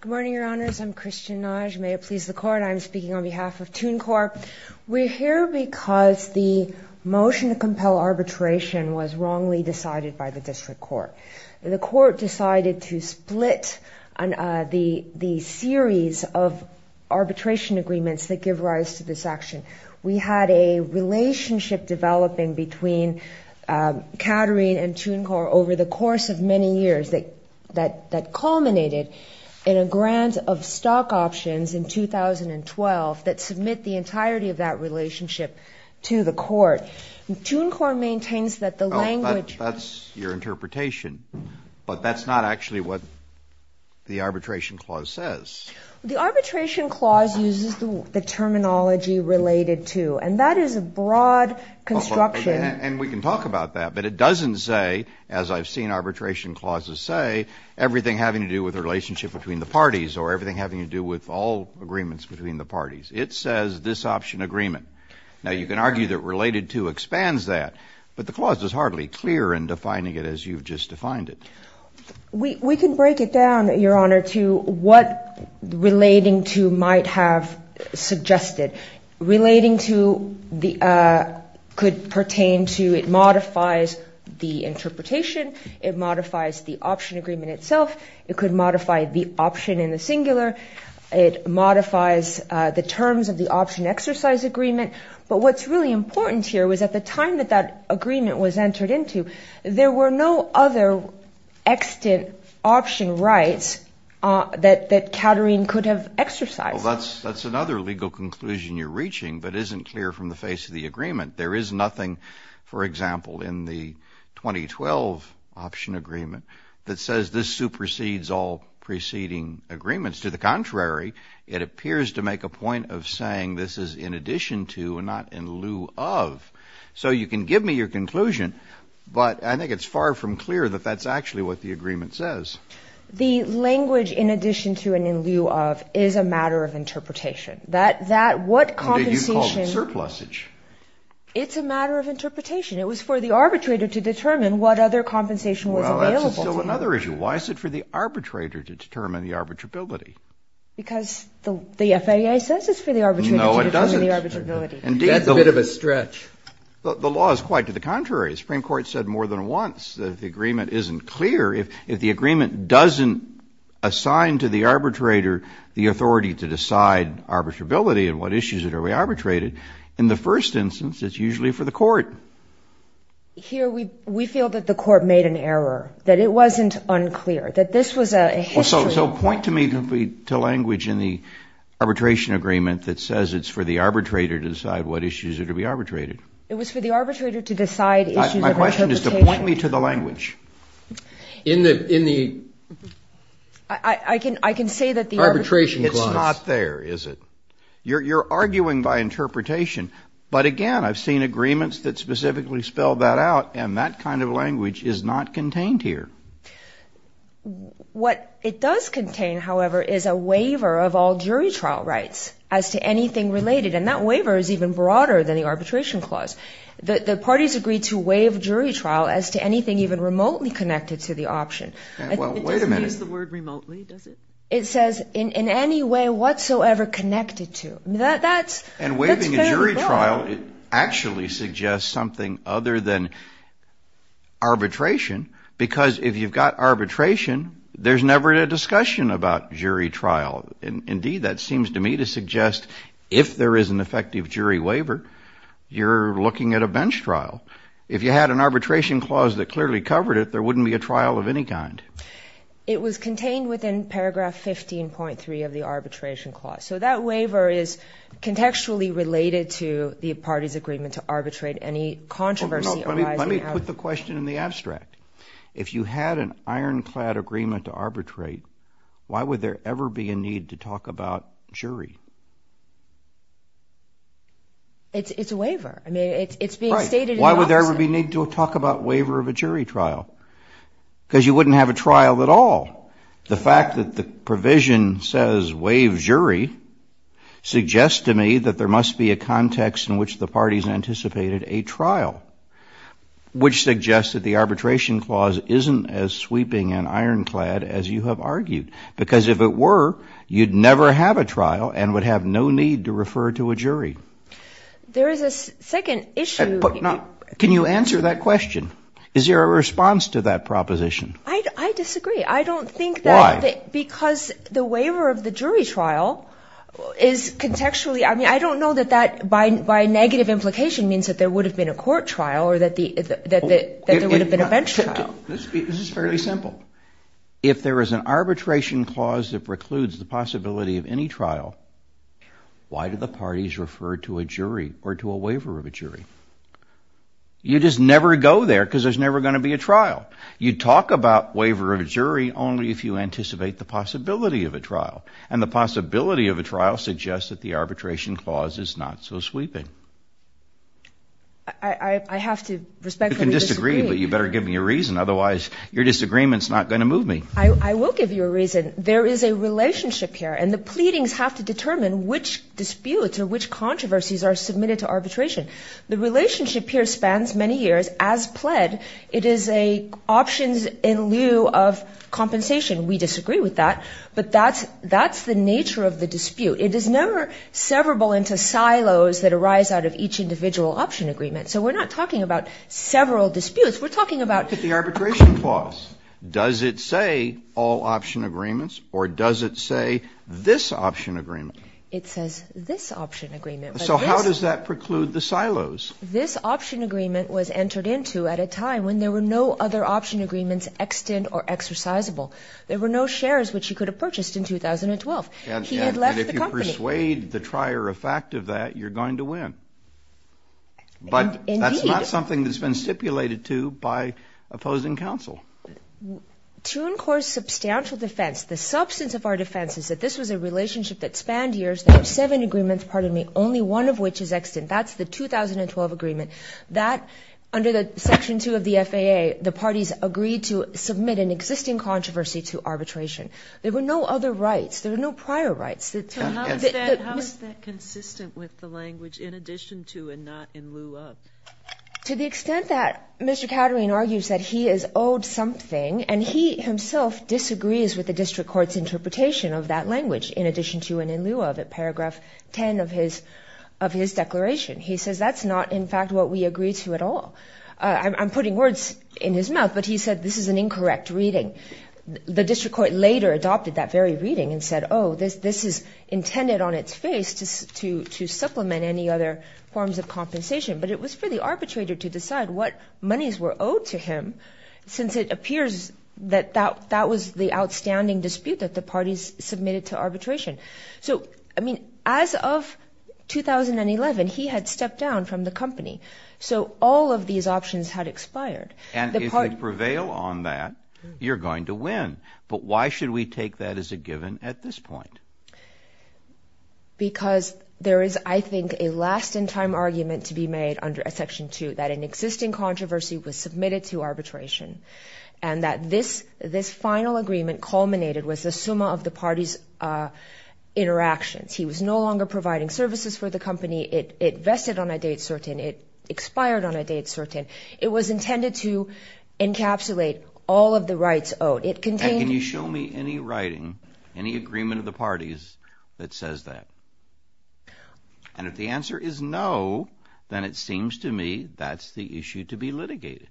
Good morning, Your Honors. I'm Christian Nagy. May it please the Court, I'm speaking on behalf of Tunecore. We're here because the motion to compel arbitration was wrongly decided by the District Court. The Court decided to split the series of arbitration agreements that give rise to this action. We had a relationship developing between Caterine and Tunecore over the course of many years that culminated in a grant of stock options in 2012 that submit the entirety of that relationship to the Court. Tunecore maintains that the language... That's your interpretation, but that's not actually what the arbitration clause says. The arbitration clause uses the terminology related to, and that is a broad construction... I've never seen arbitration clauses say everything having to do with a relationship between the parties or everything having to do with all agreements between the parties. It says this option agreement. Now, you can argue that related to expands that, but the clause is hardly clear in defining it as you've just defined it. We can break it down, Your Honor, to what relating to might have suggested. Relating to the could pertain to it modifies the interpretation. It modifies the option agreement itself. It could modify the option in the singular. It modifies the terms of the option exercise agreement. But what's really important here was at the time that that agreement was entered into, there were no other extant option rights that Caterine could have exercised. That's another legal conclusion you're reaching, but isn't clear from the face of the agreement. There is nothing, for example, in the 2012 option agreement that says this supersedes all preceding agreements. To the contrary, it appears to make a point of saying this is in addition to and not in lieu of. So you can give me your conclusion, but I think it's far from clear that that's actually what the agreement says. The language in addition to and in lieu of is a matter of interpretation. That what compensation Did you call it surplusage? It's a matter of interpretation. It was for the arbitrator to determine what other compensation was available to them. Well, that's still another issue. Why is it for the arbitrator to determine the arbitrability? Because the FAA says it's for the arbitrator to determine the arbitrability. No, it doesn't. That's a bit of a stretch. The law is quite to the contrary. The Supreme Court said more than once that the agreement isn't clear. If the agreement doesn't assign to the arbitrator the authority to decide arbitrability and what issues that are re-arbitrated, in the first instance, it's usually for the court. Here we feel that the court made an error, that it wasn't unclear, that this was a history Well, so point to me the language in the arbitration agreement that says it's for the arbitrator to decide what issues are to be arbitrated. It was for the arbitrator to decide issues of interpretation. The question is to point me to the language. I can say that the arbitration clause It's not there, is it? You're arguing by interpretation, but again, I've seen agreements that specifically spell that out, and that kind of language is not contained here. What it does contain, however, is a waiver of all jury trial rights as to anything related, and that waiver is even broader than the arbitration clause. The parties agreed to waive jury trial as to anything even remotely connected to the option. It doesn't use the word remotely, does it? It says in any way whatsoever connected to. And waiving a jury trial actually suggests something other than arbitration, because if you've got arbitration, there's never a discussion about jury trial. Indeed, that seems to me to suggest if there is an effective jury waiver, you're looking at a bench trial. If you had an arbitration clause that clearly covered it, there wouldn't be a trial of any kind. It was contained within paragraph 15.3 of the arbitration clause, so that waiver is contextually related to the parties' agreement to arbitrate any controversy arising out of it. Let me put the question in the abstract. If you had an ironclad agreement to arbitrate, why would there ever be a need to talk about jury? It's a waiver. I mean, it's being stated in the option. Right. Why would there ever be a need to talk about waiver of a jury trial? Because you wouldn't have a trial at all. The fact that the provision says waive jury suggests to me that there must be a context in which the parties anticipated a trial, which suggests that the arbitration clause isn't as sweeping and ironclad as you have argued, because if it were, you'd never have a trial and would have no need to refer to a jury. There is a second issue. Can you answer that question? Is there a response to that proposition? I disagree. I don't think that because the waiver of the jury trial is contextually, I mean, I don't know that that by negative implication means that there would have been a court trial or that there would have been a bench trial. This is fairly simple. If there is an arbitration clause that precludes the possibility of any trial, why do the parties refer to a jury or to a waiver of a jury? You just never go there because there's never going to be a trial. You talk about waiver of a jury only if you anticipate the possibility of a trial. And the possibility of a trial suggests that the arbitration clause is not so sweeping. I have to respectfully disagree. You can disagree, but you better give me a reason. Otherwise, your disagreement is not going to move me. I will give you a reason. There is a relationship here and the pleadings have to determine which disputes or which controversies are submitted to arbitration. The relationship here spans many years. As pled, it is a options in lieu of compensation. We disagree with that, but that's the nature of the dispute. It is never severable into silos that arise out of each individual option agreement. So we're not talking about several disputes. We're talking about... Look at the arbitration clause. Does it say all option agreements or does it say this option agreement? It says this option agreement. So how does that preclude the silos? This option agreement was entered into at a time when there were no other option agreements extant or exercisable. There were no shares which you could have purchased in 2012. And if you persuade the trier of fact of that, you're going to win. But that's not something that's been stipulated to by opposing counsel. To incore substantial defense, the substance of our defense is that this was a relationship that spanned years. There were seven agreements, pardon me, only one of which is extant. That's the 2012 agreement. That, under the section two of the FAA, the parties agreed to submit an existing controversy to arbitration. There were no other rights. There were no prior rights. So how is that consistent with the language in addition to and not in lieu of? To the extent that Mr. Caterine argues that he is owed something and he himself disagrees with the district court's interpretation of that language in addition to and in lieu of at paragraph 10 of his declaration. He says that's not, in fact, what we agree to at all. I'm putting words in his mouth, but he said this is an incorrect reading. The district court later adopted that very reading and said, oh, this is intended on its face to supplement any other forms of compensation. But it was for the arbitrator to decide what monies were owed to him since it appears that that was the outstanding dispute that the parties submitted to arbitration. So, I mean, as of 2011, he had stepped down from the company. So all of these options had expired. And if you prevail on that, you're going to win. But why should we take that as a given at this point? Because there is, I think, a last-in-time argument to be made under Section 2 that an existing controversy was submitted to arbitration and that this final agreement culminated with the summa of the parties' interactions. He was no longer providing services for the company. It vested on a date certain. It expired on a date certain. It was intended to encapsulate all of the rights owed. Can you show me any writing, any agreement of the parties that says that? And if the answer is no, then it seems to me that's the issue to be litigated.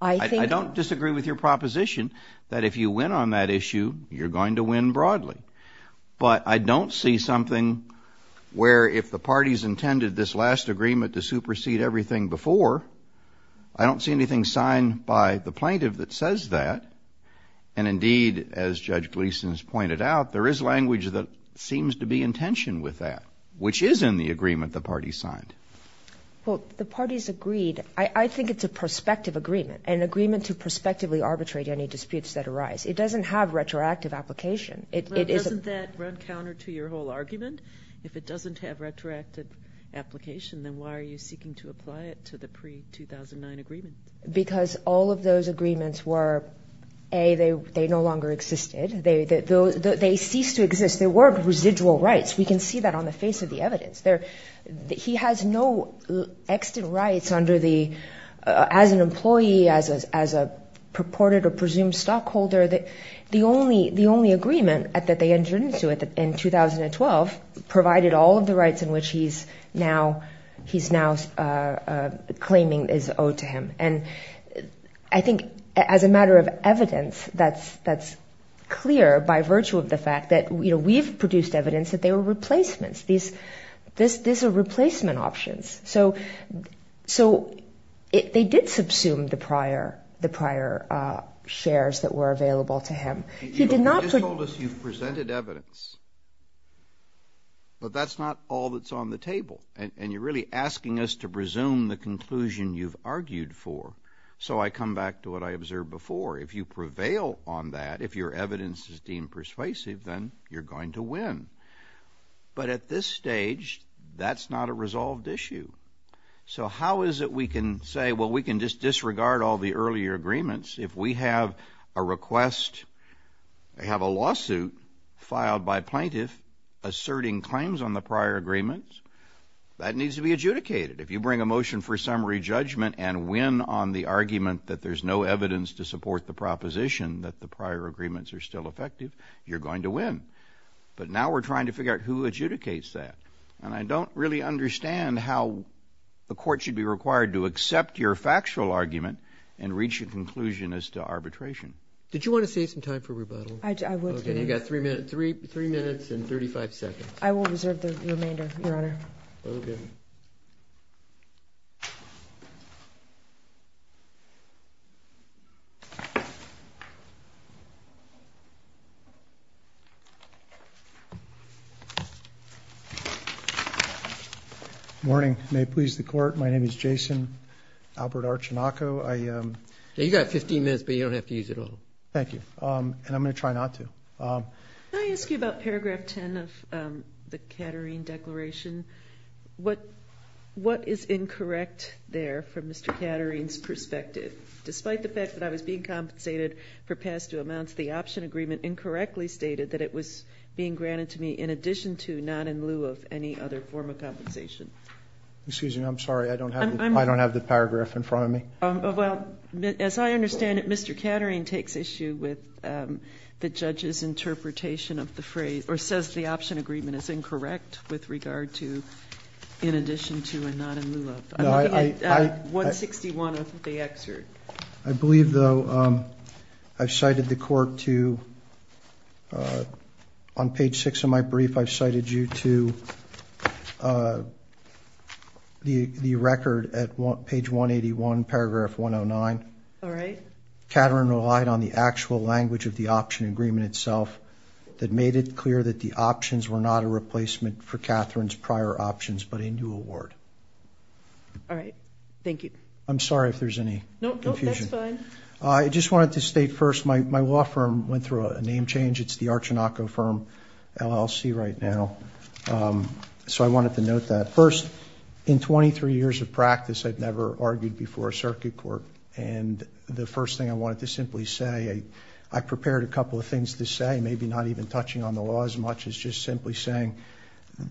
I don't disagree with your proposition that if you win on that issue, you're going to win broadly. But I don't see something where if the parties intended this last agreement to supersede everything before, I don't see anything signed by the plaintiff that says that. And indeed, as Judge Gleeson has pointed out, there is language that seems to be in tension with that, which is in the agreement the parties signed. Well, the parties agreed. I think it's a prospective agreement, an agreement to prospectively arbitrate any disputes that arise. It doesn't have retroactive application. Well, doesn't that run counter to your whole argument? If it doesn't have retroactive application, then why are you seeking to apply it to the pre-2009 agreement? Because all of those agreements were, A, they no longer existed. They ceased to exist. They weren't residual rights. We can see that on the face of the evidence. He has no extant rights as an employee, as a purported or presumed stockholder. The only agreement that they entered into in 2012 provided all of the rights in which he's now claiming is owed to him. And I think as a matter of evidence, that's clear by virtue of the fact that, you know, we've produced evidence that they were replacements. These are replacement options. So they did subsume the prior shares that were available to him. You just told us you've presented evidence, but that's not all that's on the table. And you're really asking us to presume the conclusion you've argued for. So I come back to what I observed before. If you prevail on that, if your evidence is deemed persuasive, then you're going to win. But at this stage, that's not a resolved issue. So how is it we can say, well, we can just disregard all the earlier agreements if we have a request, they have a lawsuit filed by plaintiff asserting claims on the prior agreements, that needs to be adjudicated. If you bring a motion for summary judgment and win on the argument that there's no evidence to support the proposition that the prior agreements are still effective, you're going to win. But now we're trying to figure out who adjudicates that. And I don't really understand how the court should be required to accept your factual argument and reach a conclusion as to arbitration. Did you want to save some time for rebuttal? I would. Okay, you've got three minutes and 35 seconds. I will reserve the remainder, Your Honor. Okay. Morning, may it please the court. My name is Jason Albert Archinoco. You've got 15 minutes, but you don't have to use it all. Thank you, and I'm going to try not to. Can I ask you about paragraph 10 of the Caterine Declaration? What is incorrect there from Mr. Caterine's perspective? Despite the fact that I was being compensated for past due amounts, the option agreement incorrectly stated that it was being granted to me in addition to, not in lieu of, any other form of compensation. Excuse me, I'm sorry, I don't have the paragraph in front of me. Well, as I understand it, Mr. Caterine takes issue with the judge's interpretation of the phrase, or says the option agreement is incorrect with regard to in addition to and not in lieu of. I'm looking at 161 of the excerpt. I believe, though, I've cited the court to, on page six of my brief, I've cited you to the record at page 181, paragraph 109. All right. Caterine relied on the actual language of the option agreement itself that made it clear that the options were not a replacement for Caterine's prior options, but a new award. All right, thank you. I'm sorry if there's any confusion. No, no, that's fine. I just wanted to state first, my law firm went through a name change. It's the Archinoco Firm LLC right now. So I wanted to note that. First, in 23 years of practice, I've never argued before a circuit court. And the first thing I wanted to simply say, I prepared a couple of things to say, maybe not even touching on the law as much as just simply saying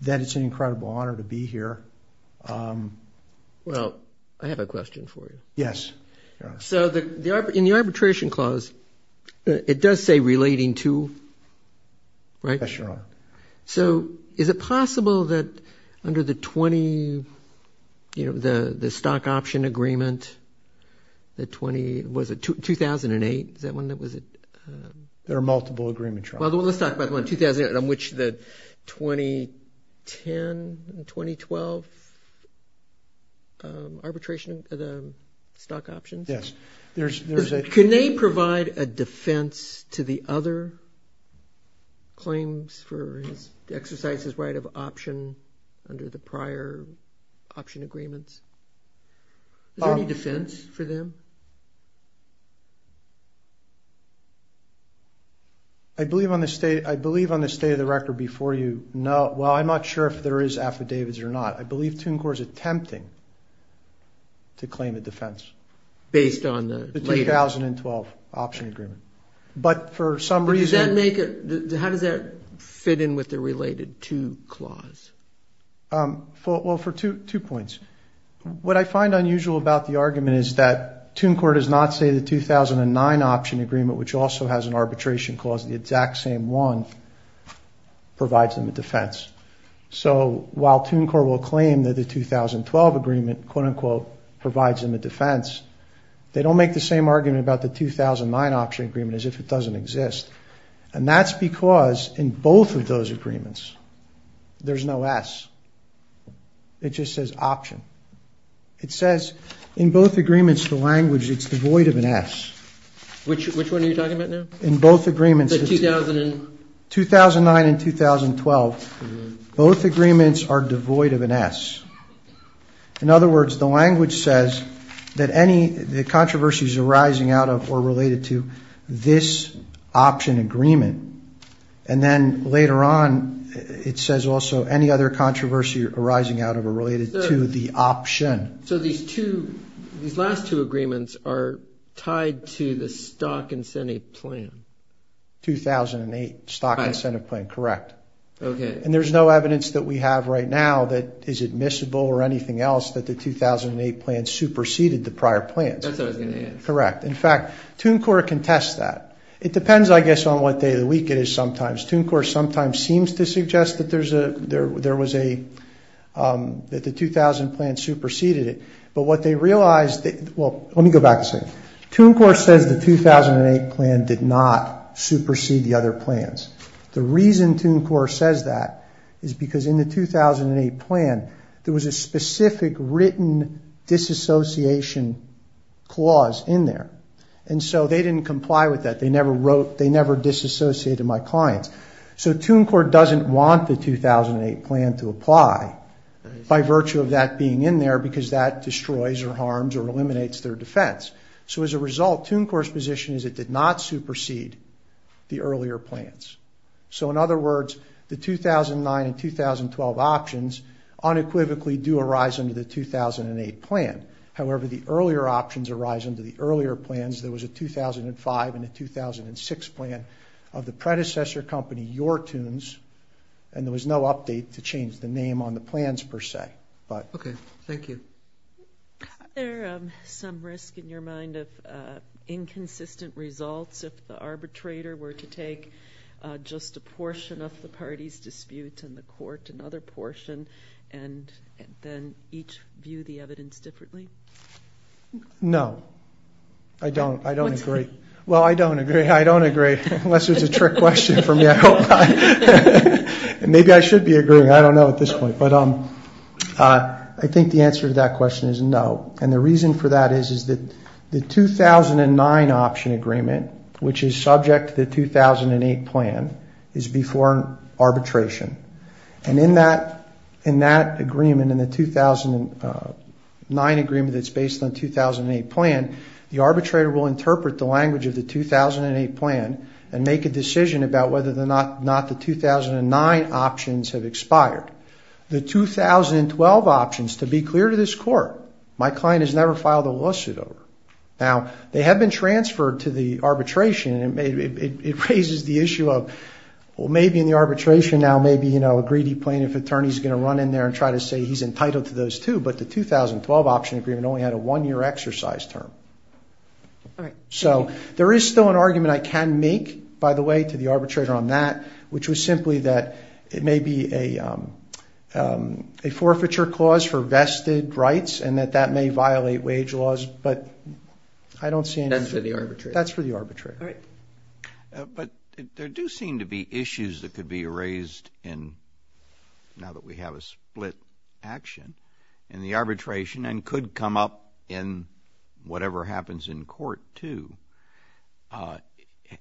that it's an incredible honor to be here. Well, I have a question for you. Yes. So in the arbitration clause, it does say relating to, right? Yes, Your Honor. So is it possible that under the 20, you know, the stock option agreement, the 20, was it 2008? Is that one that was it? There are multiple agreements, Your Honor. Well, let's talk about the one in 2008, on which the 2010 and 2012 arbitration of the stock options. Yes, there's a- Can they provide a defense to the other claims for his exercises right of option under the prior option agreements? Is there any defense for them? I believe on the state, I believe on the state of the record before you, no. Well, I'm not sure if there is affidavits or not. I believe Toon Corps is attempting to claim a defense. Based on the- The 2012 option agreement. But for some reason- But does that make it, how does that fit in with the related to clause? Well, for two points. What I find unusual about the argument is that Toon Corps does not say the 2009 option agreement, which also has an arbitration clause, the exact same one, provides them a defense. So while Toon Corps will claim that the 2012 agreement, quote unquote, provides them a defense, they don't make the same argument about the 2009 option agreement as if it doesn't exist. And that's because in both of those agreements, there's no S. It just says option. It says in both agreements, the language, it's devoid of an S. Which one are you talking about now? In both agreements. The 2000 and- 2009 and 2012. Both agreements are devoid of an S. In other words, the language says that any, the controversies arising out of or related to this option agreement. And then later on, it says also any other controversy arising out of or related to the option. So these two, these last two agreements are tied to the stock incentive plan. 2008 stock incentive plan, correct. Okay. And there's no evidence that we have right now that is admissible or anything else that the 2008 plan superseded the prior plans. That's what I was going to ask. Correct. In fact, Toon Corps can test that. It depends, I guess, on what day of the week it is sometimes. Toon Corps sometimes seems to suggest that there was a, that the 2000 plan superseded it. But what they realized, well, let me go back a second. Toon Corps says the 2008 plan did not supersede the other plans. The reason Toon Corps says that is because in the 2008 plan, there was a specific written disassociation clause in there. And so they didn't comply with that. They never disassociated my clients. So Toon Corps doesn't want the 2008 plan to apply by virtue of that being in there because that destroys or harms or eliminates their defense. So as a result, Toon Corps' position is it did not supersede the earlier plans. So in other words, the 2009 and 2012 options unequivocally do arise under the 2008 plan. However, the earlier options arise under the earlier plans. There was a 2005 and a 2006 plan of the predecessor company, Your Toons. And there was no update to change the name on the plans, per se, but. Okay. Thank you. Is there some risk in your mind of inconsistent results if the arbitrator were to take just a portion of the party's dispute in the court, another portion, and then each view the evidence differently? No. I don't. I don't agree. Well, I don't agree. I don't agree, unless it's a trick question for me, I hope. Maybe I should be agreeing. I don't know at this point. But I think the answer to that question is no. And the reason for that is that the 2009 option agreement, which is subject to the 2008 plan, is before arbitration. And in that agreement, in the 2009 agreement that's based on the 2008 plan, the arbitrator will interpret the language of the 2008 plan and make a decision about whether or not the 2009 options have expired. The 2012 options, to be clear to this court, my client has never filed a lawsuit over. Now, they have been transferred to the arbitration, and it raises the issue of, well, maybe in the arbitration now, maybe, you know, a greedy plaintiff attorney is going to run in there and try to say he's entitled to those, too. But the 2012 option agreement only had a one-year exercise term. All right. So there is still an argument I can make, by the way, to the arbitrator on that, which was simply that it may be a forfeiture clause for vested rights and that that may violate wage laws. But I don't see anything. That's for the arbitrator. That's for the arbitrator. All right. But there do seem to be issues that could be raised in, now that we have a split action, in the arbitration and could come up in whatever happens in court, too.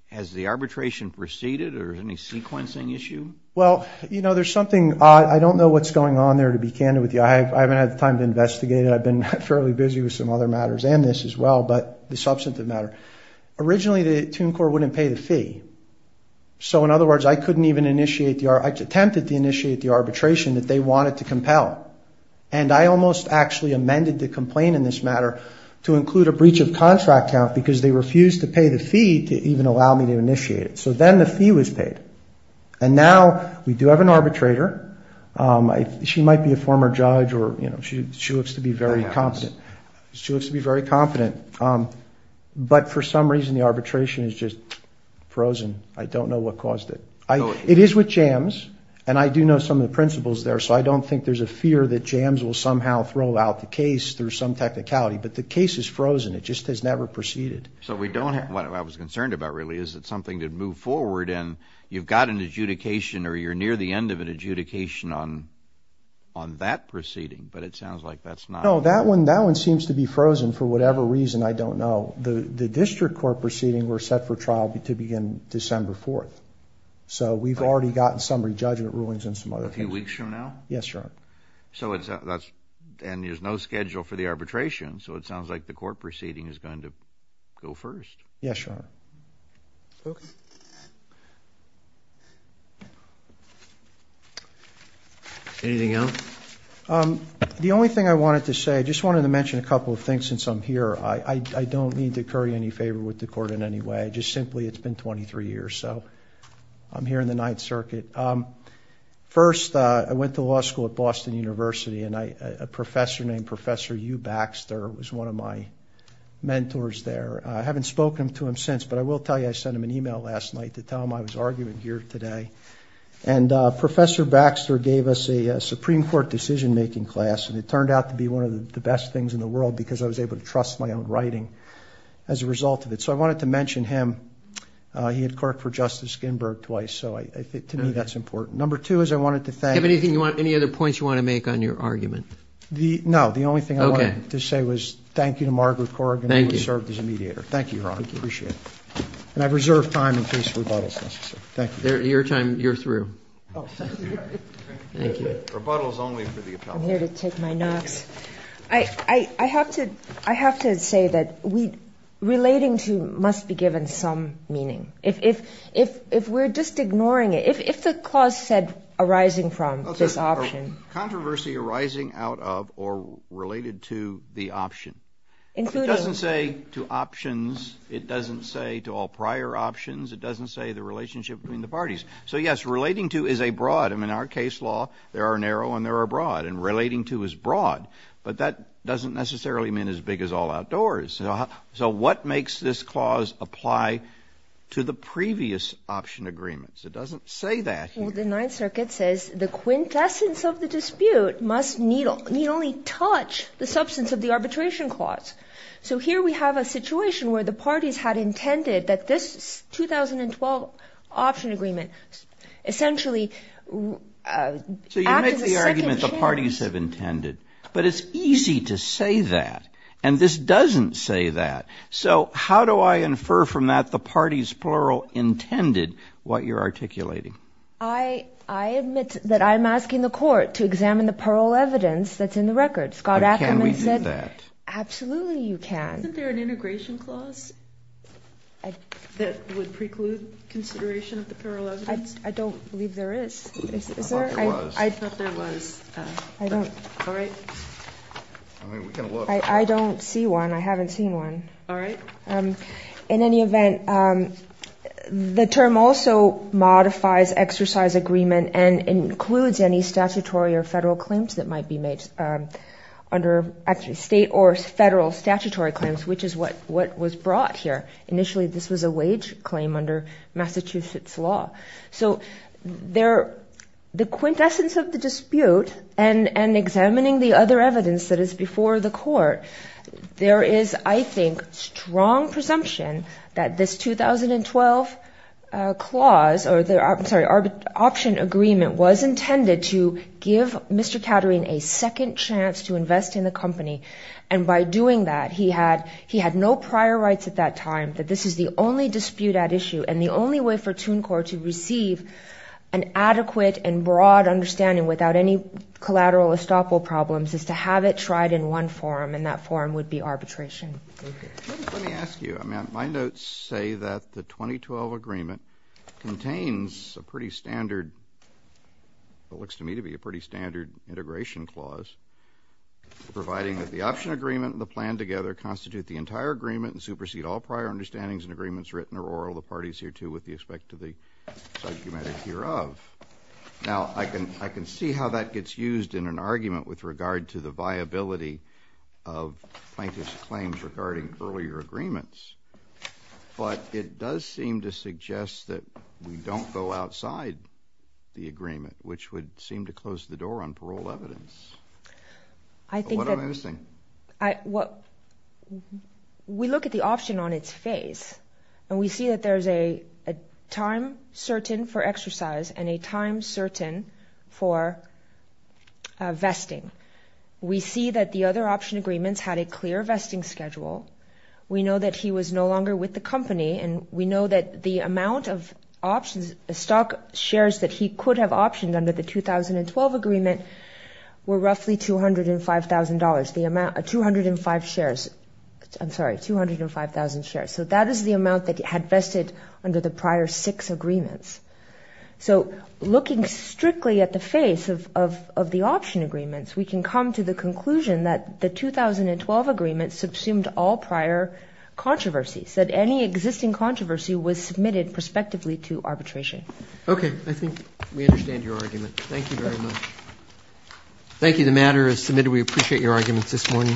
Has the arbitration proceeded, or is there any sequencing issue? Well, you know, there's something, I don't know what's going on there, to be candid with you. I haven't had the time to investigate it. I've been fairly busy with some other matters and this as well, but the substantive matter. Originally, the Tune Corps wouldn't pay the fee. So in other words, I couldn't even initiate the, I attempted to initiate the arbitration that they wanted to compel. And I almost actually amended the complaint in this matter to include a breach of contract count because they refused to pay the fee to even allow me to initiate it. So then the fee was paid. And now we do have an arbitrator. She might be a former judge or, you know, she looks to be very competent. She looks to be very competent. But for some reason, the arbitration is just frozen. I don't know what caused it. It is with JAMS, and I do know some of the principles there. So I don't think there's a fear that JAMS will somehow throw out the case through some technicality. But the case is frozen. It just has never proceeded. So we don't have, what I was concerned about really is that something did move forward and you've got an adjudication or you're near the end of an adjudication on that proceeding. But it sounds like that's not. No, that one seems to be frozen for whatever reason, I don't know. The district court proceeding were set for trial to begin December 4th. So we've already gotten some re-judgment rulings and some other things. A few weeks from now? Yes, Your Honor. So that's, and there's no schedule for the arbitration. So it sounds like the court proceeding is going to go first. Yes, Your Honor. Anything else? The only thing I wanted to say, I just wanted to mention a couple of things since I'm here. I don't need to curry any favor with the court in any way. Just simply, it's been 23 years. So I'm here in the Ninth Circuit. First, I went to law school at Boston University and a professor named Professor Hugh Baxter was one of my mentors there. I haven't spoken to him since. But I will tell you I sent him an email last night to tell him I was arguing here today. And Professor Baxter gave us a Supreme Court decision-making class and it turned out to be one of the best things in the world because I was able to trust my own writing as a result of it. So I wanted to mention him. He had courted for Justice Skinberg twice, so to me that's important. Number two is I wanted to thank... Do you have any other points you want to make on your argument? No. The only thing I wanted to say was thank you to Margaret Corrigan who served as a mediator. Thank you, Your Honor. I appreciate it. And I've reserved time in case rebuttal is necessary. Your time, you're through. Thank you. Rebuttal is only for the appellate. I'm here to take my nox. I have to say that relating to must be given some meaning. If we're just ignoring it, if the clause said arising from this option. Controversy arising out of or related to the option. It doesn't say to options. It doesn't say to all prior options. It doesn't say the relationship between the parties. So, yes, relating to is a broad. In our case law, there are narrow and there are broad. And relating to is broad. But that doesn't necessarily mean as big as all outdoors. So what makes this clause apply to the previous option agreements? It doesn't say that here. The Ninth Circuit says the quintessence of the dispute must need only touch the substance of the arbitration clause. So here we have a situation where the parties had intended that this 2012 option agreement essentially acted as a second chance. So you make the argument the parties have intended. But it's easy to say that. And this doesn't say that. So how do I infer from that the parties, plural, intended what you're articulating? I admit that I'm asking the court to examine the plural evidence that's in the record. Scott Ackerman said. Can we do that? Absolutely you can. Isn't there an integration clause that would preclude consideration of the plural evidence? I don't believe there is. I thought there was. I thought there was. All right. I don't see one. I haven't seen one. All right. In any event, the term also modifies exercise agreement and includes any statutory or federal claims that might be made under actually state or federal statutory claims, which is what was brought here. Initially this was a wage claim under Massachusetts law. So the quintessence of the dispute and examining the other evidence that is before the court, there is, I think, strong presumption that this 2012 option agreement was intended to give Mr. Katerine a second chance to invest in the company. And by doing that, he had no prior rights at that time that this is the only dispute at issue and the only way for TUNCOR to receive an adequate and broad understanding without any collateral estoppel problems is to have it tried in one forum, and that forum would be arbitration. Let me ask you. My notes say that the 2012 agreement contains a pretty standard, what looks to me to be a pretty standard, integration clause, providing that the option agreement and the plan together constitute the entire agreement and supersede all prior understandings and agreements written or oral of parties hereto with respect to the subject matter hereof. Now, I can see how that gets used in an argument with regard to the viability of plaintiff's claims regarding earlier agreements. But it does seem to suggest that we don't go outside the agreement, which would seem to close the door on parole evidence. What am I missing? We look at the option on its face, and we see that there's a time certain for exercise and a time certain for vesting. We see that the other option agreements had a clear vesting schedule. We know that he was no longer with the company, and we know that the amount of options, stock shares that he could have optioned under the 2012 agreement were roughly $205,000, the amount, 205 shares. I'm sorry, 205,000 shares. So that is the amount that had vested under the prior six agreements. So looking strictly at the face of the option agreements, we can come to the conclusion that the 2012 agreement subsumed all prior controversies, that any existing controversy was submitted prospectively to arbitration. Okay. I think we understand your argument. Thank you very much. Thank you. The matter is submitted. We appreciate your arguments this morning.